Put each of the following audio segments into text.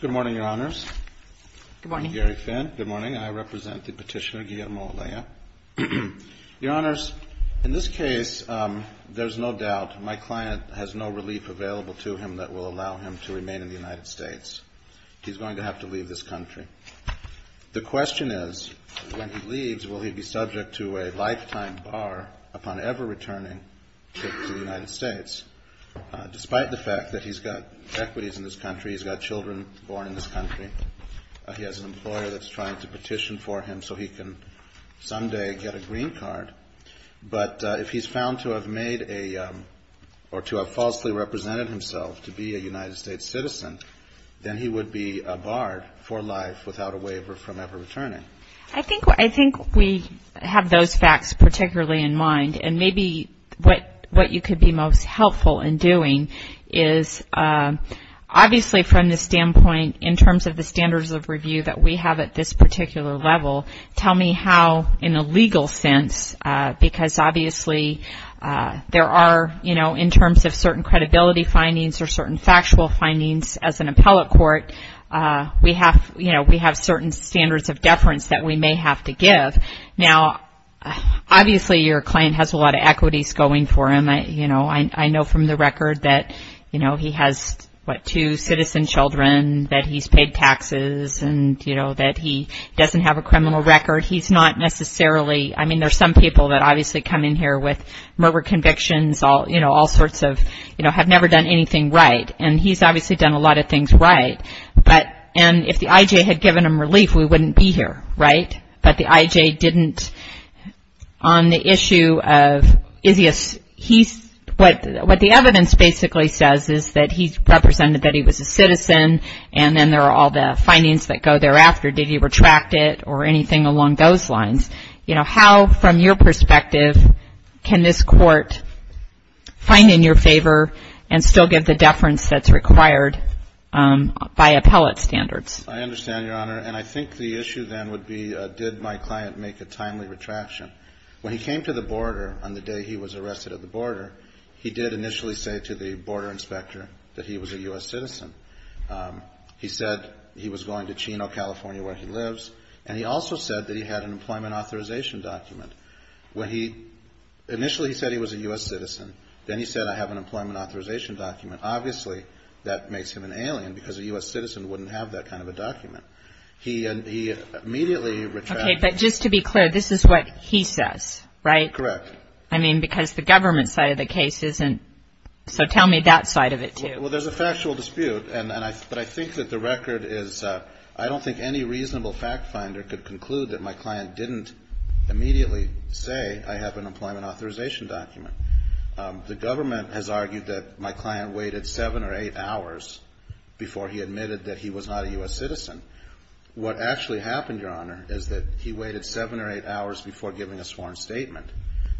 Good morning, Your Honors. I'm Gary Finn. Good morning. I represent the Petitioner Guillermo OLEA. Your Honors, in this case, there's no doubt my client has no relief available to him that will allow him to remain in the United States. He's going to have to leave this country. The question is, when he leaves, will he be subject to a lifetime bar upon ever returning to the United States? Despite the fact that he's got equities in this country, he's got children born in this country, he has an employer that's trying to petition for him so he can someday get a green card. But if he's found to have made a, or to have falsely represented himself to be a United States citizen, then he would be barred for life without a waiver from ever returning. I think we have those facts particularly in mind. And maybe what you could be most helpful in doing is, obviously from the standpoint in terms of the standards of review that we have at this particular level, tell me how, in a legal sense, because obviously there are, you know, in terms of certain credibility findings or certain factual findings as an evidence that we may have to give. Now, obviously your client has a lot of equities going for him. You know, I know from the record that, you know, he has, what, two citizen children, that he's paid taxes and, you know, that he doesn't have a criminal record. He's not necessarily ‑‑ I mean, there's some people that obviously come in here with murder convictions, you know, all sorts of, you know, have never done anything right. And he's obviously done a But, and if the IJ had given him relief, we wouldn't be here, right? But the IJ didn't, on the issue of, is he a ‑‑ he's, what the evidence basically says is that he's represented that he was a citizen, and then there are all the findings that go thereafter. Did he retract it or anything along those lines? You know, how, from your perspective, can this court find in your favor and still give the deference that's required by appellate standards? I understand, Your Honor. And I think the issue then would be, did my client make a timely retraction? When he came to the border on the day he was arrested at the border, he did initially say to the border inspector that he was a U.S. citizen. He said he was going to Chino, California, where he lives. And he also said that he had an employment authorization document. When he, initially he said he was a U.S. citizen. Then he said I have an employment authorization document. Obviously, that makes him an alien, because a U.S. citizen wouldn't have that kind of a document. He immediately retracted. Okay, but just to be clear, this is what he says, right? Correct. I mean, because the government side of the case isn't, so tell me that side of it, too. Well, there's a factual dispute, and I, but I think that the record is, I don't think any reasonable fact finder could conclude that my client didn't immediately say I have an employment authorization document. The government has argued that my client waited seven or eight hours before he admitted that he was not a U.S. citizen. What actually happened, Your Honor, is that he waited seven or eight hours before giving a sworn statement.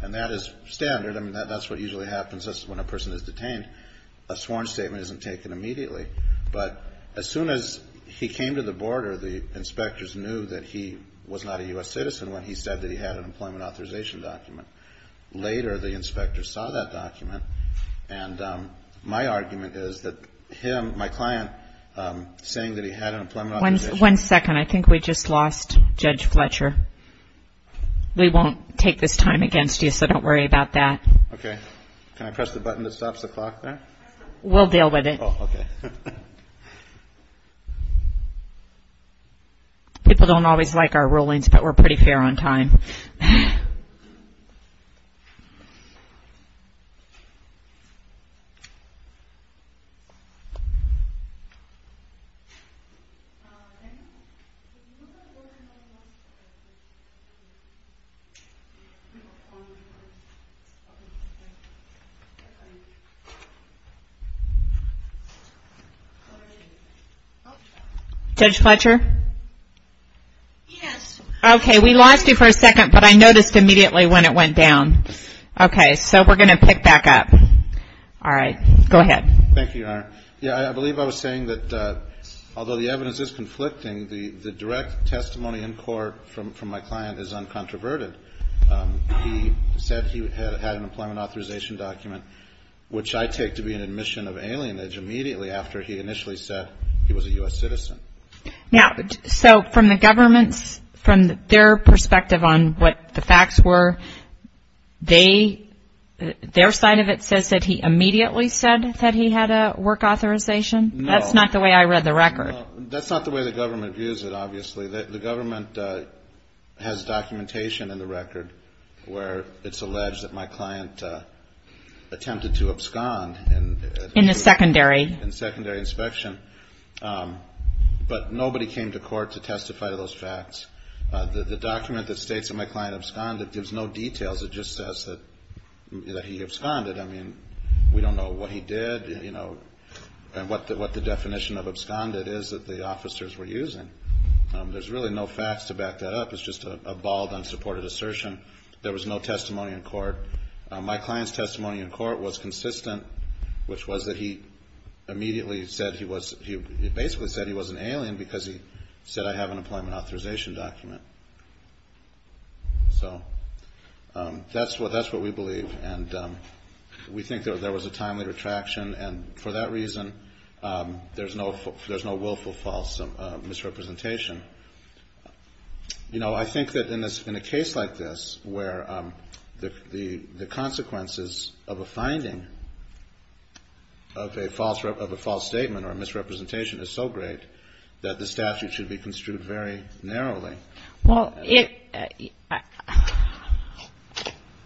And that is standard. I mean, that's what usually happens when a person is detained. A sworn statement isn't taken immediately. But as soon as he came to the border, the inspectors knew that he was not a U.S. citizen when he said that he had an employment authorization document. Later, the inspectors saw that document, and my argument is that him, my client, saying that he had an employment authorization document. One second. I think we just lost Judge Fletcher. We won't take this time against you, so don't worry about that. Okay. Can I press the button that stops the clock there? We'll deal with it. People don't always like our rulings, but we're pretty fair on time. Judge Fletcher? Yes. Okay. We lost you for a second, but I noticed immediately when it went down. Okay. So we're going to pick back up. All right. Go ahead. Thank you, Your Honor. Yeah, I believe I was saying that although the evidence is conflicting, the direct testimony in court from my client is uncontroverted. He said he had an employment authorization document, which I take to be an admission of alienage immediately after he initially said he was a U.S. citizen. Now, so from the government's, from their perspective on what the facts were, they, their side of it says that he immediately said that he had a work authorization? No. That's not the way I read the record. No. That's not the way the government views it, obviously. The government has documentation in the record where it's alleged that my client attempted to abscond. In a secondary? In a secondary inspection. But nobody came to court to testify to those facts. The document that states that my client absconded gives no details. It just says that he absconded. I mean, we don't know what he did, you know, and what the definition of absconded is that the officers were using. There's really no facts to back that up. It's just a bald, unsupported assertion. There was no testimony in court. My client's testimony in court was consistent, which was that he immediately said he was, he basically said he was an alien because he said, I have an employment authorization document. So that's what, that's what we believe. And we think that there was a timely retraction. And for that reason, there's no, there's no willful false misrepresentation. You know, I think that in this, in a case like this, where the, the, the consequences of a finding of a false, of a false statement or misrepresentation is so great that the statute should be construed very narrowly. Well, it,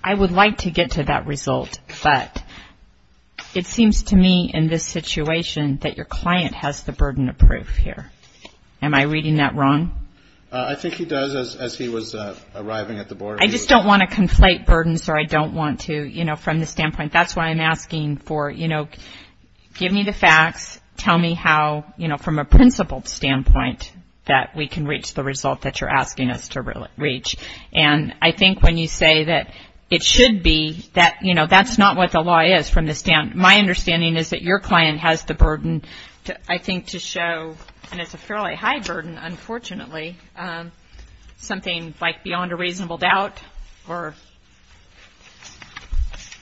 I would like to get to that result, but it seems to me in this situation that your client has the burden of proof here. Am I reading that wrong? I think he does, as he was arriving at the board. I just don't want to conflate burdens, or I don't want to, you know, from the standpoint, that's why I'm asking for, you know, give me the facts, tell me how, you know, from a principled standpoint that we can reach the results that you're asking us to reach. And I think when you say that it should be, that, you know, that's not what the law is from the standpoint. My understanding is that your client has the burden, I think, to show, and it's a fairly high burden, unfortunately, something like beyond a reasonable doubt, or...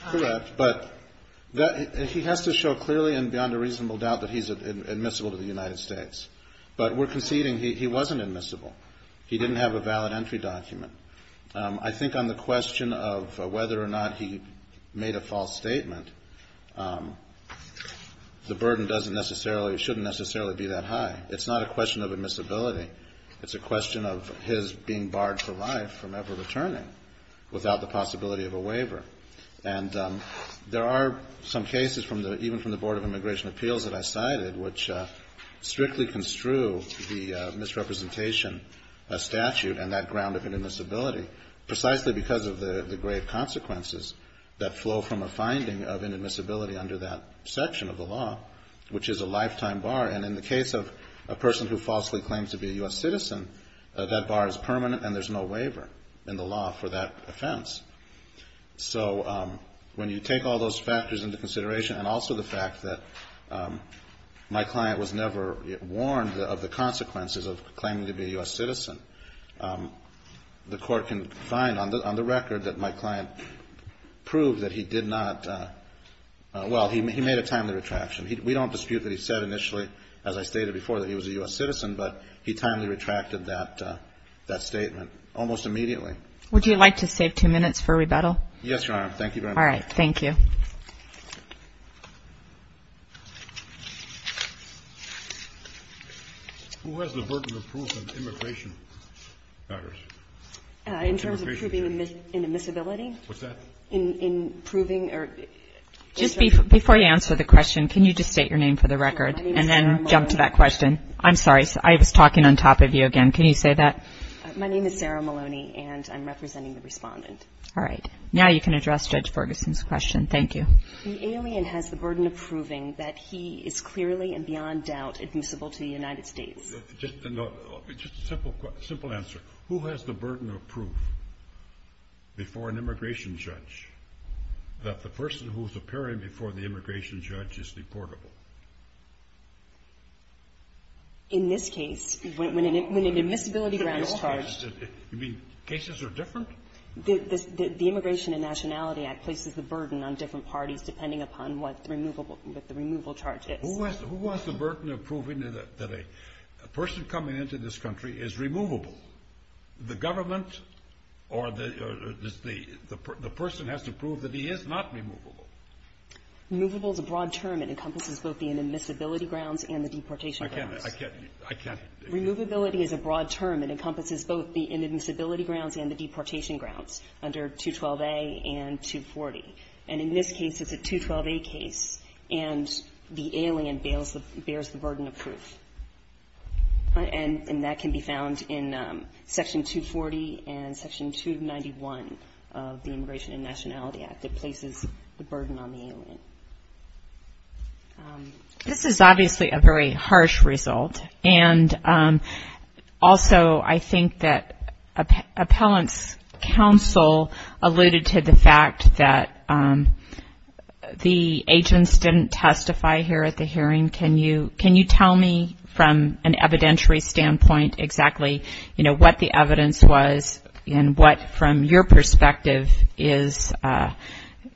Correct, but he has to show clearly and beyond a reasonable doubt that he's admissible to the United States. But we're conceding he wasn't admissible. He didn't have a valid entry document. I think on the question of whether or not he made a false statement, the burden doesn't necessarily, shouldn't necessarily be that high. It's not a question of admissibility. It's a question of his being barred for life from ever returning without the possibility of a waiver. And there are some cases from the, even from the Board of Immigration Appeals that I cited, which strictly construe the misrepresentation statute and that ground of inadmissibility, precisely because of the grave consequences that flow from a finding of inadmissibility under that section of the law, which is a lifetime bar. And in the case of a person who falsely claims to be a U.S. citizen, that bar is permanent, and there's no waiver in the law for that offense. So when you take all those factors into consideration, and also the fact that my client was never warned of the consequences of claiming to be a U.S. citizen, the Court can find on the record that my client proved that he did not, well, he made a timely retraction. We don't dispute that he said initially, as I stated before, that he was a U.S. citizen, but he timely retracted that statement almost immediately. Would you like to save two minutes for rebuttal? Yes, Your Honor. Thank you very much. All right. Thank you. Who has the burden of proof in immigration matters? In terms of proving inadmissibility? What's that? Just before you answer the question, can you just state your name for the record? And then jump to that question. I'm sorry. I was talking on top of you again. Can you say that? My name is Sarah Maloney, and I'm representing the Respondent. All right. Now you can address Judge Ferguson's question. Thank you. The alien has the burden of proving that he is clearly and beyond doubt admissible to the United States. Just a simple answer. Who has the burden of proof before an immigration judge that the person who is appearing before the immigration judge is deportable? In this case, when an admissibility grant is charged. You mean cases are different? The Immigration and Nationality Act places the burden on different parties, depending upon what the removal charge is. Who has the burden of proving that a person coming into this country is removable? The government or the person has to prove that he is not removable. Removable is a broad term. It encompasses both the inadmissibility grounds and the deportation grounds. I can't. I can't. Removability is a broad term. It encompasses both the inadmissibility grounds and the deportation grounds under 212a and 240. And in this case, it's a 212a case. And the alien bears the burden of proof. And that can be found in Section 240 and Section 291 of the Immigration and Nationality Act. It places the burden on the alien. This is obviously a very harsh result. And also, I think that Appellant's counsel alluded to the fact that the agents didn't testify here at the hearing. Can you tell me from an evidentiary standpoint exactly, you know, what the evidence was and what from your perspective is,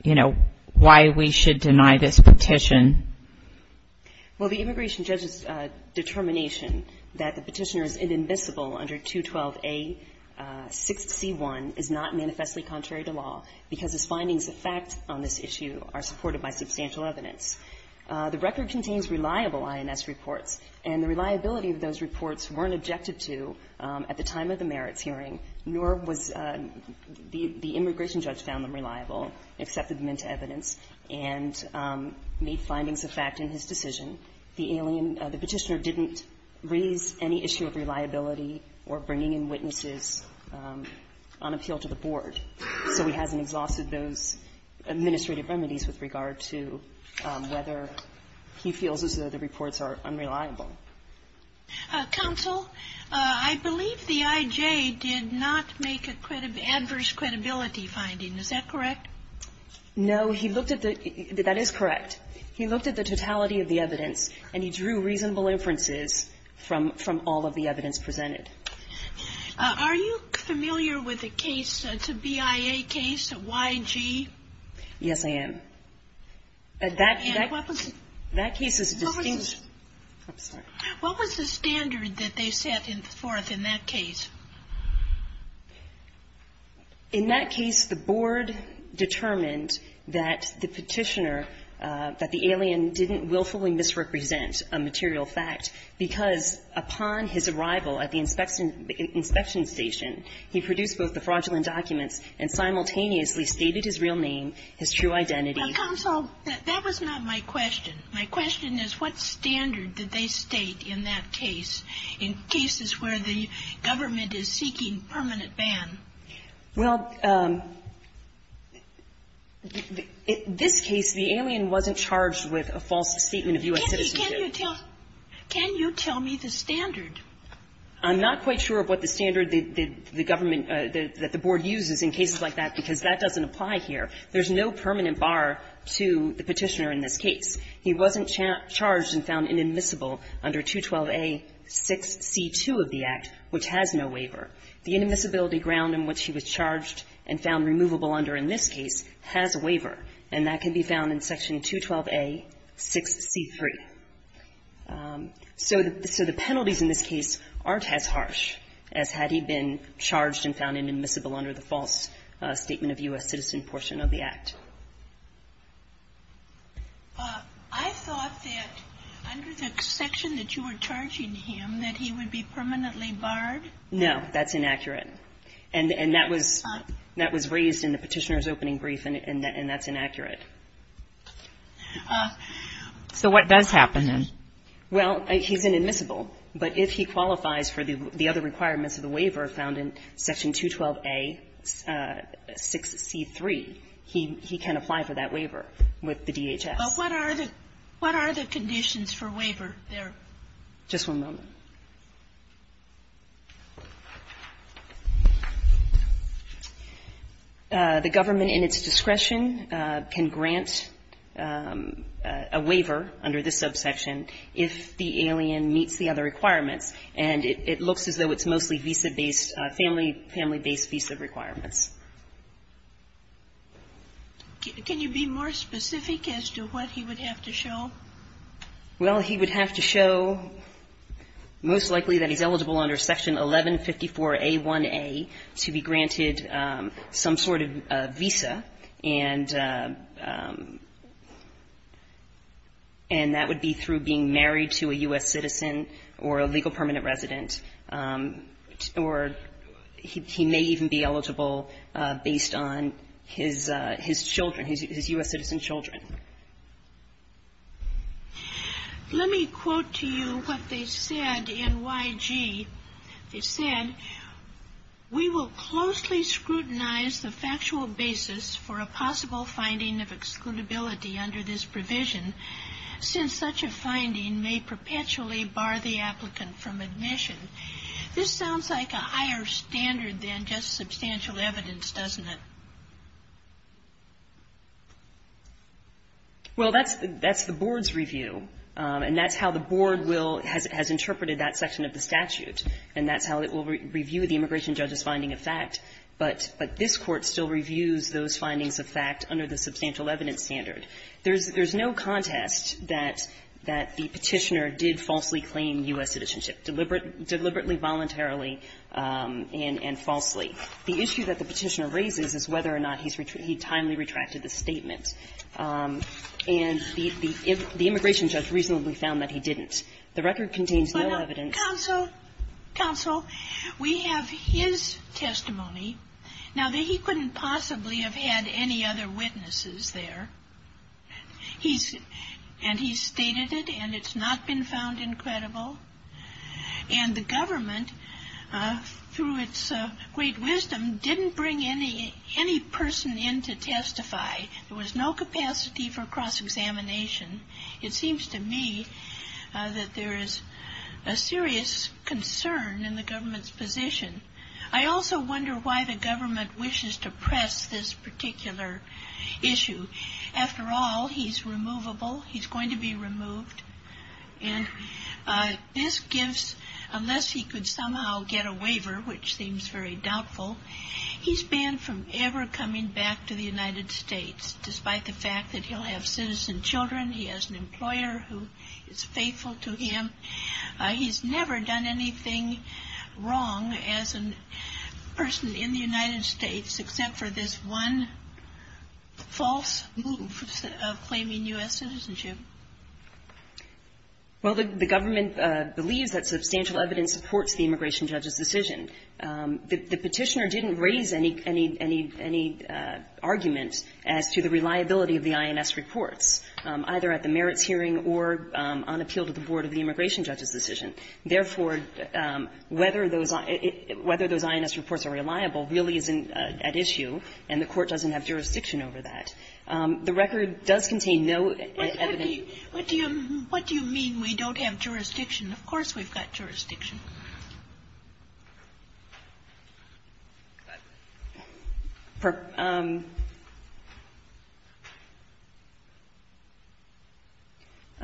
you know, why we should deny this petition? Well, the immigration judge's determination that the petitioner is inadmissible under 212a, 6c1, is not manifestly contrary to law because his findings of fact on this issue are supported by substantial evidence. The record contains reliable INS reports. And the reliability of those reports weren't objected to at the time of the merits hearing, nor was the immigration judge found them reliable, accepted them into evidence and made findings of fact in his decision. The petitioner didn't raise any issue of reliability or bringing in witnesses on appeal to the board. So he hasn't exhausted those administrative remedies with regard to whether he feels as though the reports are unreliable. Counsel, I believe the I.J. did not make an adverse credibility finding. Is that correct? No. He looked at the – that is correct. He looked at the totality of the evidence, and he drew reasonable inferences from all of the evidence presented. Are you familiar with the case, the BIA case, YG? Yes, I am. And what was the standard that they set forth in that case? In that case, the board determined that the petitioner, that the alien didn't willfully misrepresent a material fact, because upon his arrival at the inspection station, he produced both the fraudulent documents and simultaneously stated his real name, his true identity. Counsel, that was not my question. My question is what standard did they state in that case, in cases where the government is seeking permanent ban? Well, in this case, the alien wasn't charged with a false statement of U.S. citizenship. Can you tell me the standard? I'm not quite sure of what the standard the government – that the board uses in cases like that, because that doesn't apply here. There's no permanent bar to the petitioner in this case. He wasn't charged and found inadmissible under 212A.6c2 of the Act, which has no waiver. The inadmissibility ground in which he was charged and found removable under in this case has a waiver, and that can be found in section 212A.6c3. So the penalties in this case aren't as harsh as had he been charged and found inadmissible under the false statement of U.S. citizen portion of the Act. I thought that under the section that you were charging him that he would be permanently barred. No. That's inaccurate. And that was raised in the Petitioner's Opening Brief, and that's inaccurate. So what does happen then? Well, he's inadmissible, but if he qualifies for the other requirements of the waiver found in section 212A.6c3, he can apply for that waiver with the DHS. But what are the conditions for waiver there? Just one moment. The government in its discretion can grant a waiver under this subsection if the alien meets the other requirements. And it looks as though it's mostly visa-based, family-based visa requirements. Can you be more specific as to what he would have to show? Well, he would have to show most likely that he's eligible under section 1154A1A to be granted some sort of visa, and that would be through being married to a U.S. citizen or a legal permanent resident, or he may even be eligible based on his children, his U.S. citizen children. Let me quote to you what they said in YG. They said, We will closely scrutinize the factual basis for a possible finding of excludability under this provision since such a finding may perpetually bar the applicant from admission. This sounds like a higher standard than just substantial evidence, doesn't it? Well, that's the board's review, and that's how the board will has interpreted that section of the statute, and that's how it will review the immigration judge's finding of fact. But this Court still reviews those findings of fact under the substantial evidence standard. There's no contest that the Petitioner did falsely claim U.S. citizenship, deliberately, voluntarily, and falsely. The issue that the Petitioner raises is whether or not he timely retracted the statement. And the immigration judge reasonably found that he didn't. The record contains no evidence. Counsel, we have his testimony. Now, he couldn't possibly have had any other witnesses there. And he's stated it, and it's not been found incredible. And the government, through its great wisdom, didn't bring any person in to testify. There was no capacity for cross-examination. It seems to me that there is a serious concern in the government's position. I also wonder why the government wishes to press this particular issue. After all, he's removable. He's going to be removed. And this gives, unless he could somehow get a waiver, which seems very doubtful, he's banned from ever coming back to the United States, despite the fact that he'll have citizen children. He has an employer who is faithful to him. He's never done anything wrong as a person in the United States, except for this one false move of claiming U.S. citizenship. Well, the government believes that substantial evidence supports the immigration judge's decision. The petitioner didn't raise any argument as to the reliability of the INS reports, either at the merits hearing or on appeal to the board of the immigration judge's decision. Therefore, whether those INS reports are reliable really isn't at issue, and the Court doesn't have jurisdiction over that. The record does contain no evidence. What do you mean we don't have jurisdiction? Of course we've got jurisdiction. I'm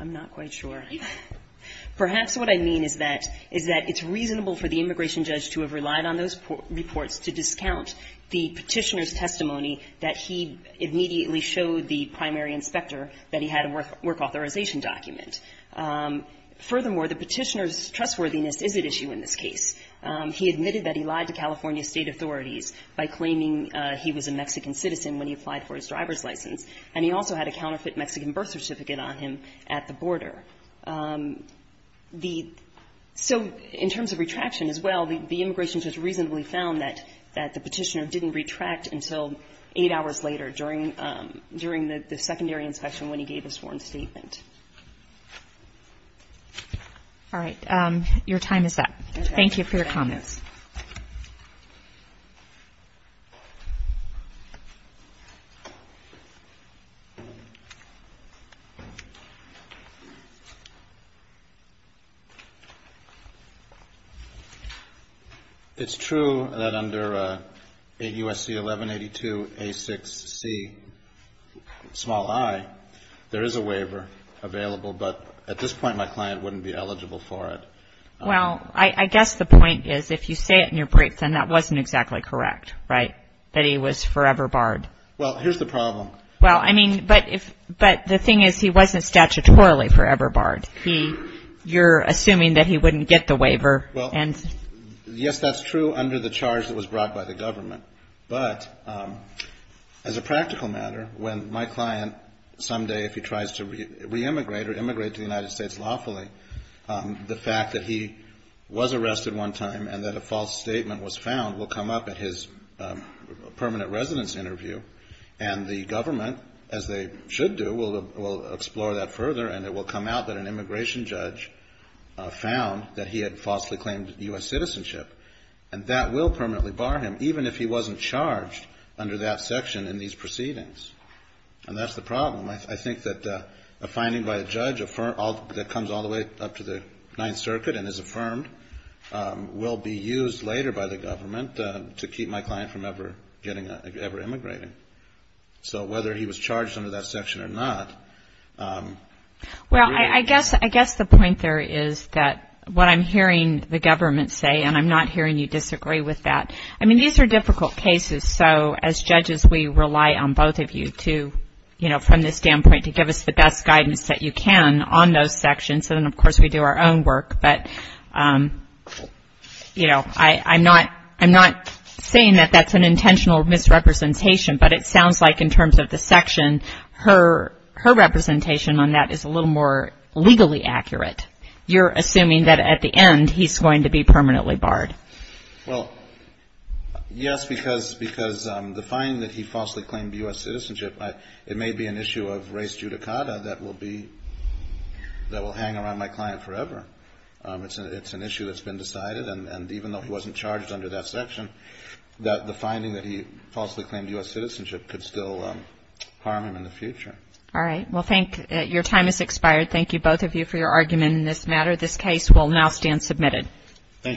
not quite sure. Perhaps what I mean is that it's reasonable for the immigration judge to have relied on those reports to discount the petitioner's testimony that he immediately showed the primary inspector that he had a work authorization document. Furthermore, the petitioner's trustworthiness is at issue in this case. He admitted that he lied to California State authorities by claiming he was a Mexican citizen when he applied for his driver's license, and he also had a counterfeit Mexican birth certificate on him at the border. The so in terms of retraction as well, the immigration judge reasonably found that the petitioner didn't retract until eight hours later during the secondary inspection when he gave his sworn statement. All right. Your time is up. Thank you for your comments. It's true that under 8 U.S.C. 1182A6Ci there is a waiver available, but at this point my client wouldn't be eligible for it. Well, I guess the point is if you say it in your brief, then that wasn't exactly correct, right, that he was forever barred. Well, here's the problem. Well, I mean, but the thing is he wasn't statutorily forever barred. He you're assuming that he wouldn't get the waiver and Well, yes, that's true under the charge that was brought by the government. But as a practical matter, when my client someday if he tries to re-immigrate or immigrate to the United States lawfully, the fact that he was arrested one time and that a false statement was found will come up at his permanent residence interview and the government, as they should do, will explore that further and it will come out that an immigration judge found that he had falsely claimed U.S. citizenship and that will permanently bar him even if he wasn't charged under that section in these proceedings. And that's the problem. I think that a finding by a judge that comes all the way up to the Ninth Circuit and is affirmed will be used later by the government to keep my client from ever getting ever immigrating. So whether he was charged under that section or not. Well, I guess the point there is that what I'm hearing the government say, and I'm not hearing you disagree with that. I mean, these are difficult cases. So as judges, we rely on both of you to, you know, from this standpoint, to give us the best guidance that you can on those sections. And, of course, we do our own work. But, you know, I'm not saying that that's an intentional misrepresentation, but it sounds like in terms of the section, her representation on that is a little more legally accurate. You're assuming that at the end he's going to be permanently barred. Well, yes, because the finding that he falsely claimed U.S. citizenship, it may be an issue of race judicata that will hang around my client forever. It's an issue that's been decided. And even though he wasn't charged under that section, the finding that he falsely claimed U.S. citizenship could still harm him in the future. All right. Well, thank you. Your time has expired. Thank you, both of you, for your argument in this matter. This case will now stand submitted. Thank you.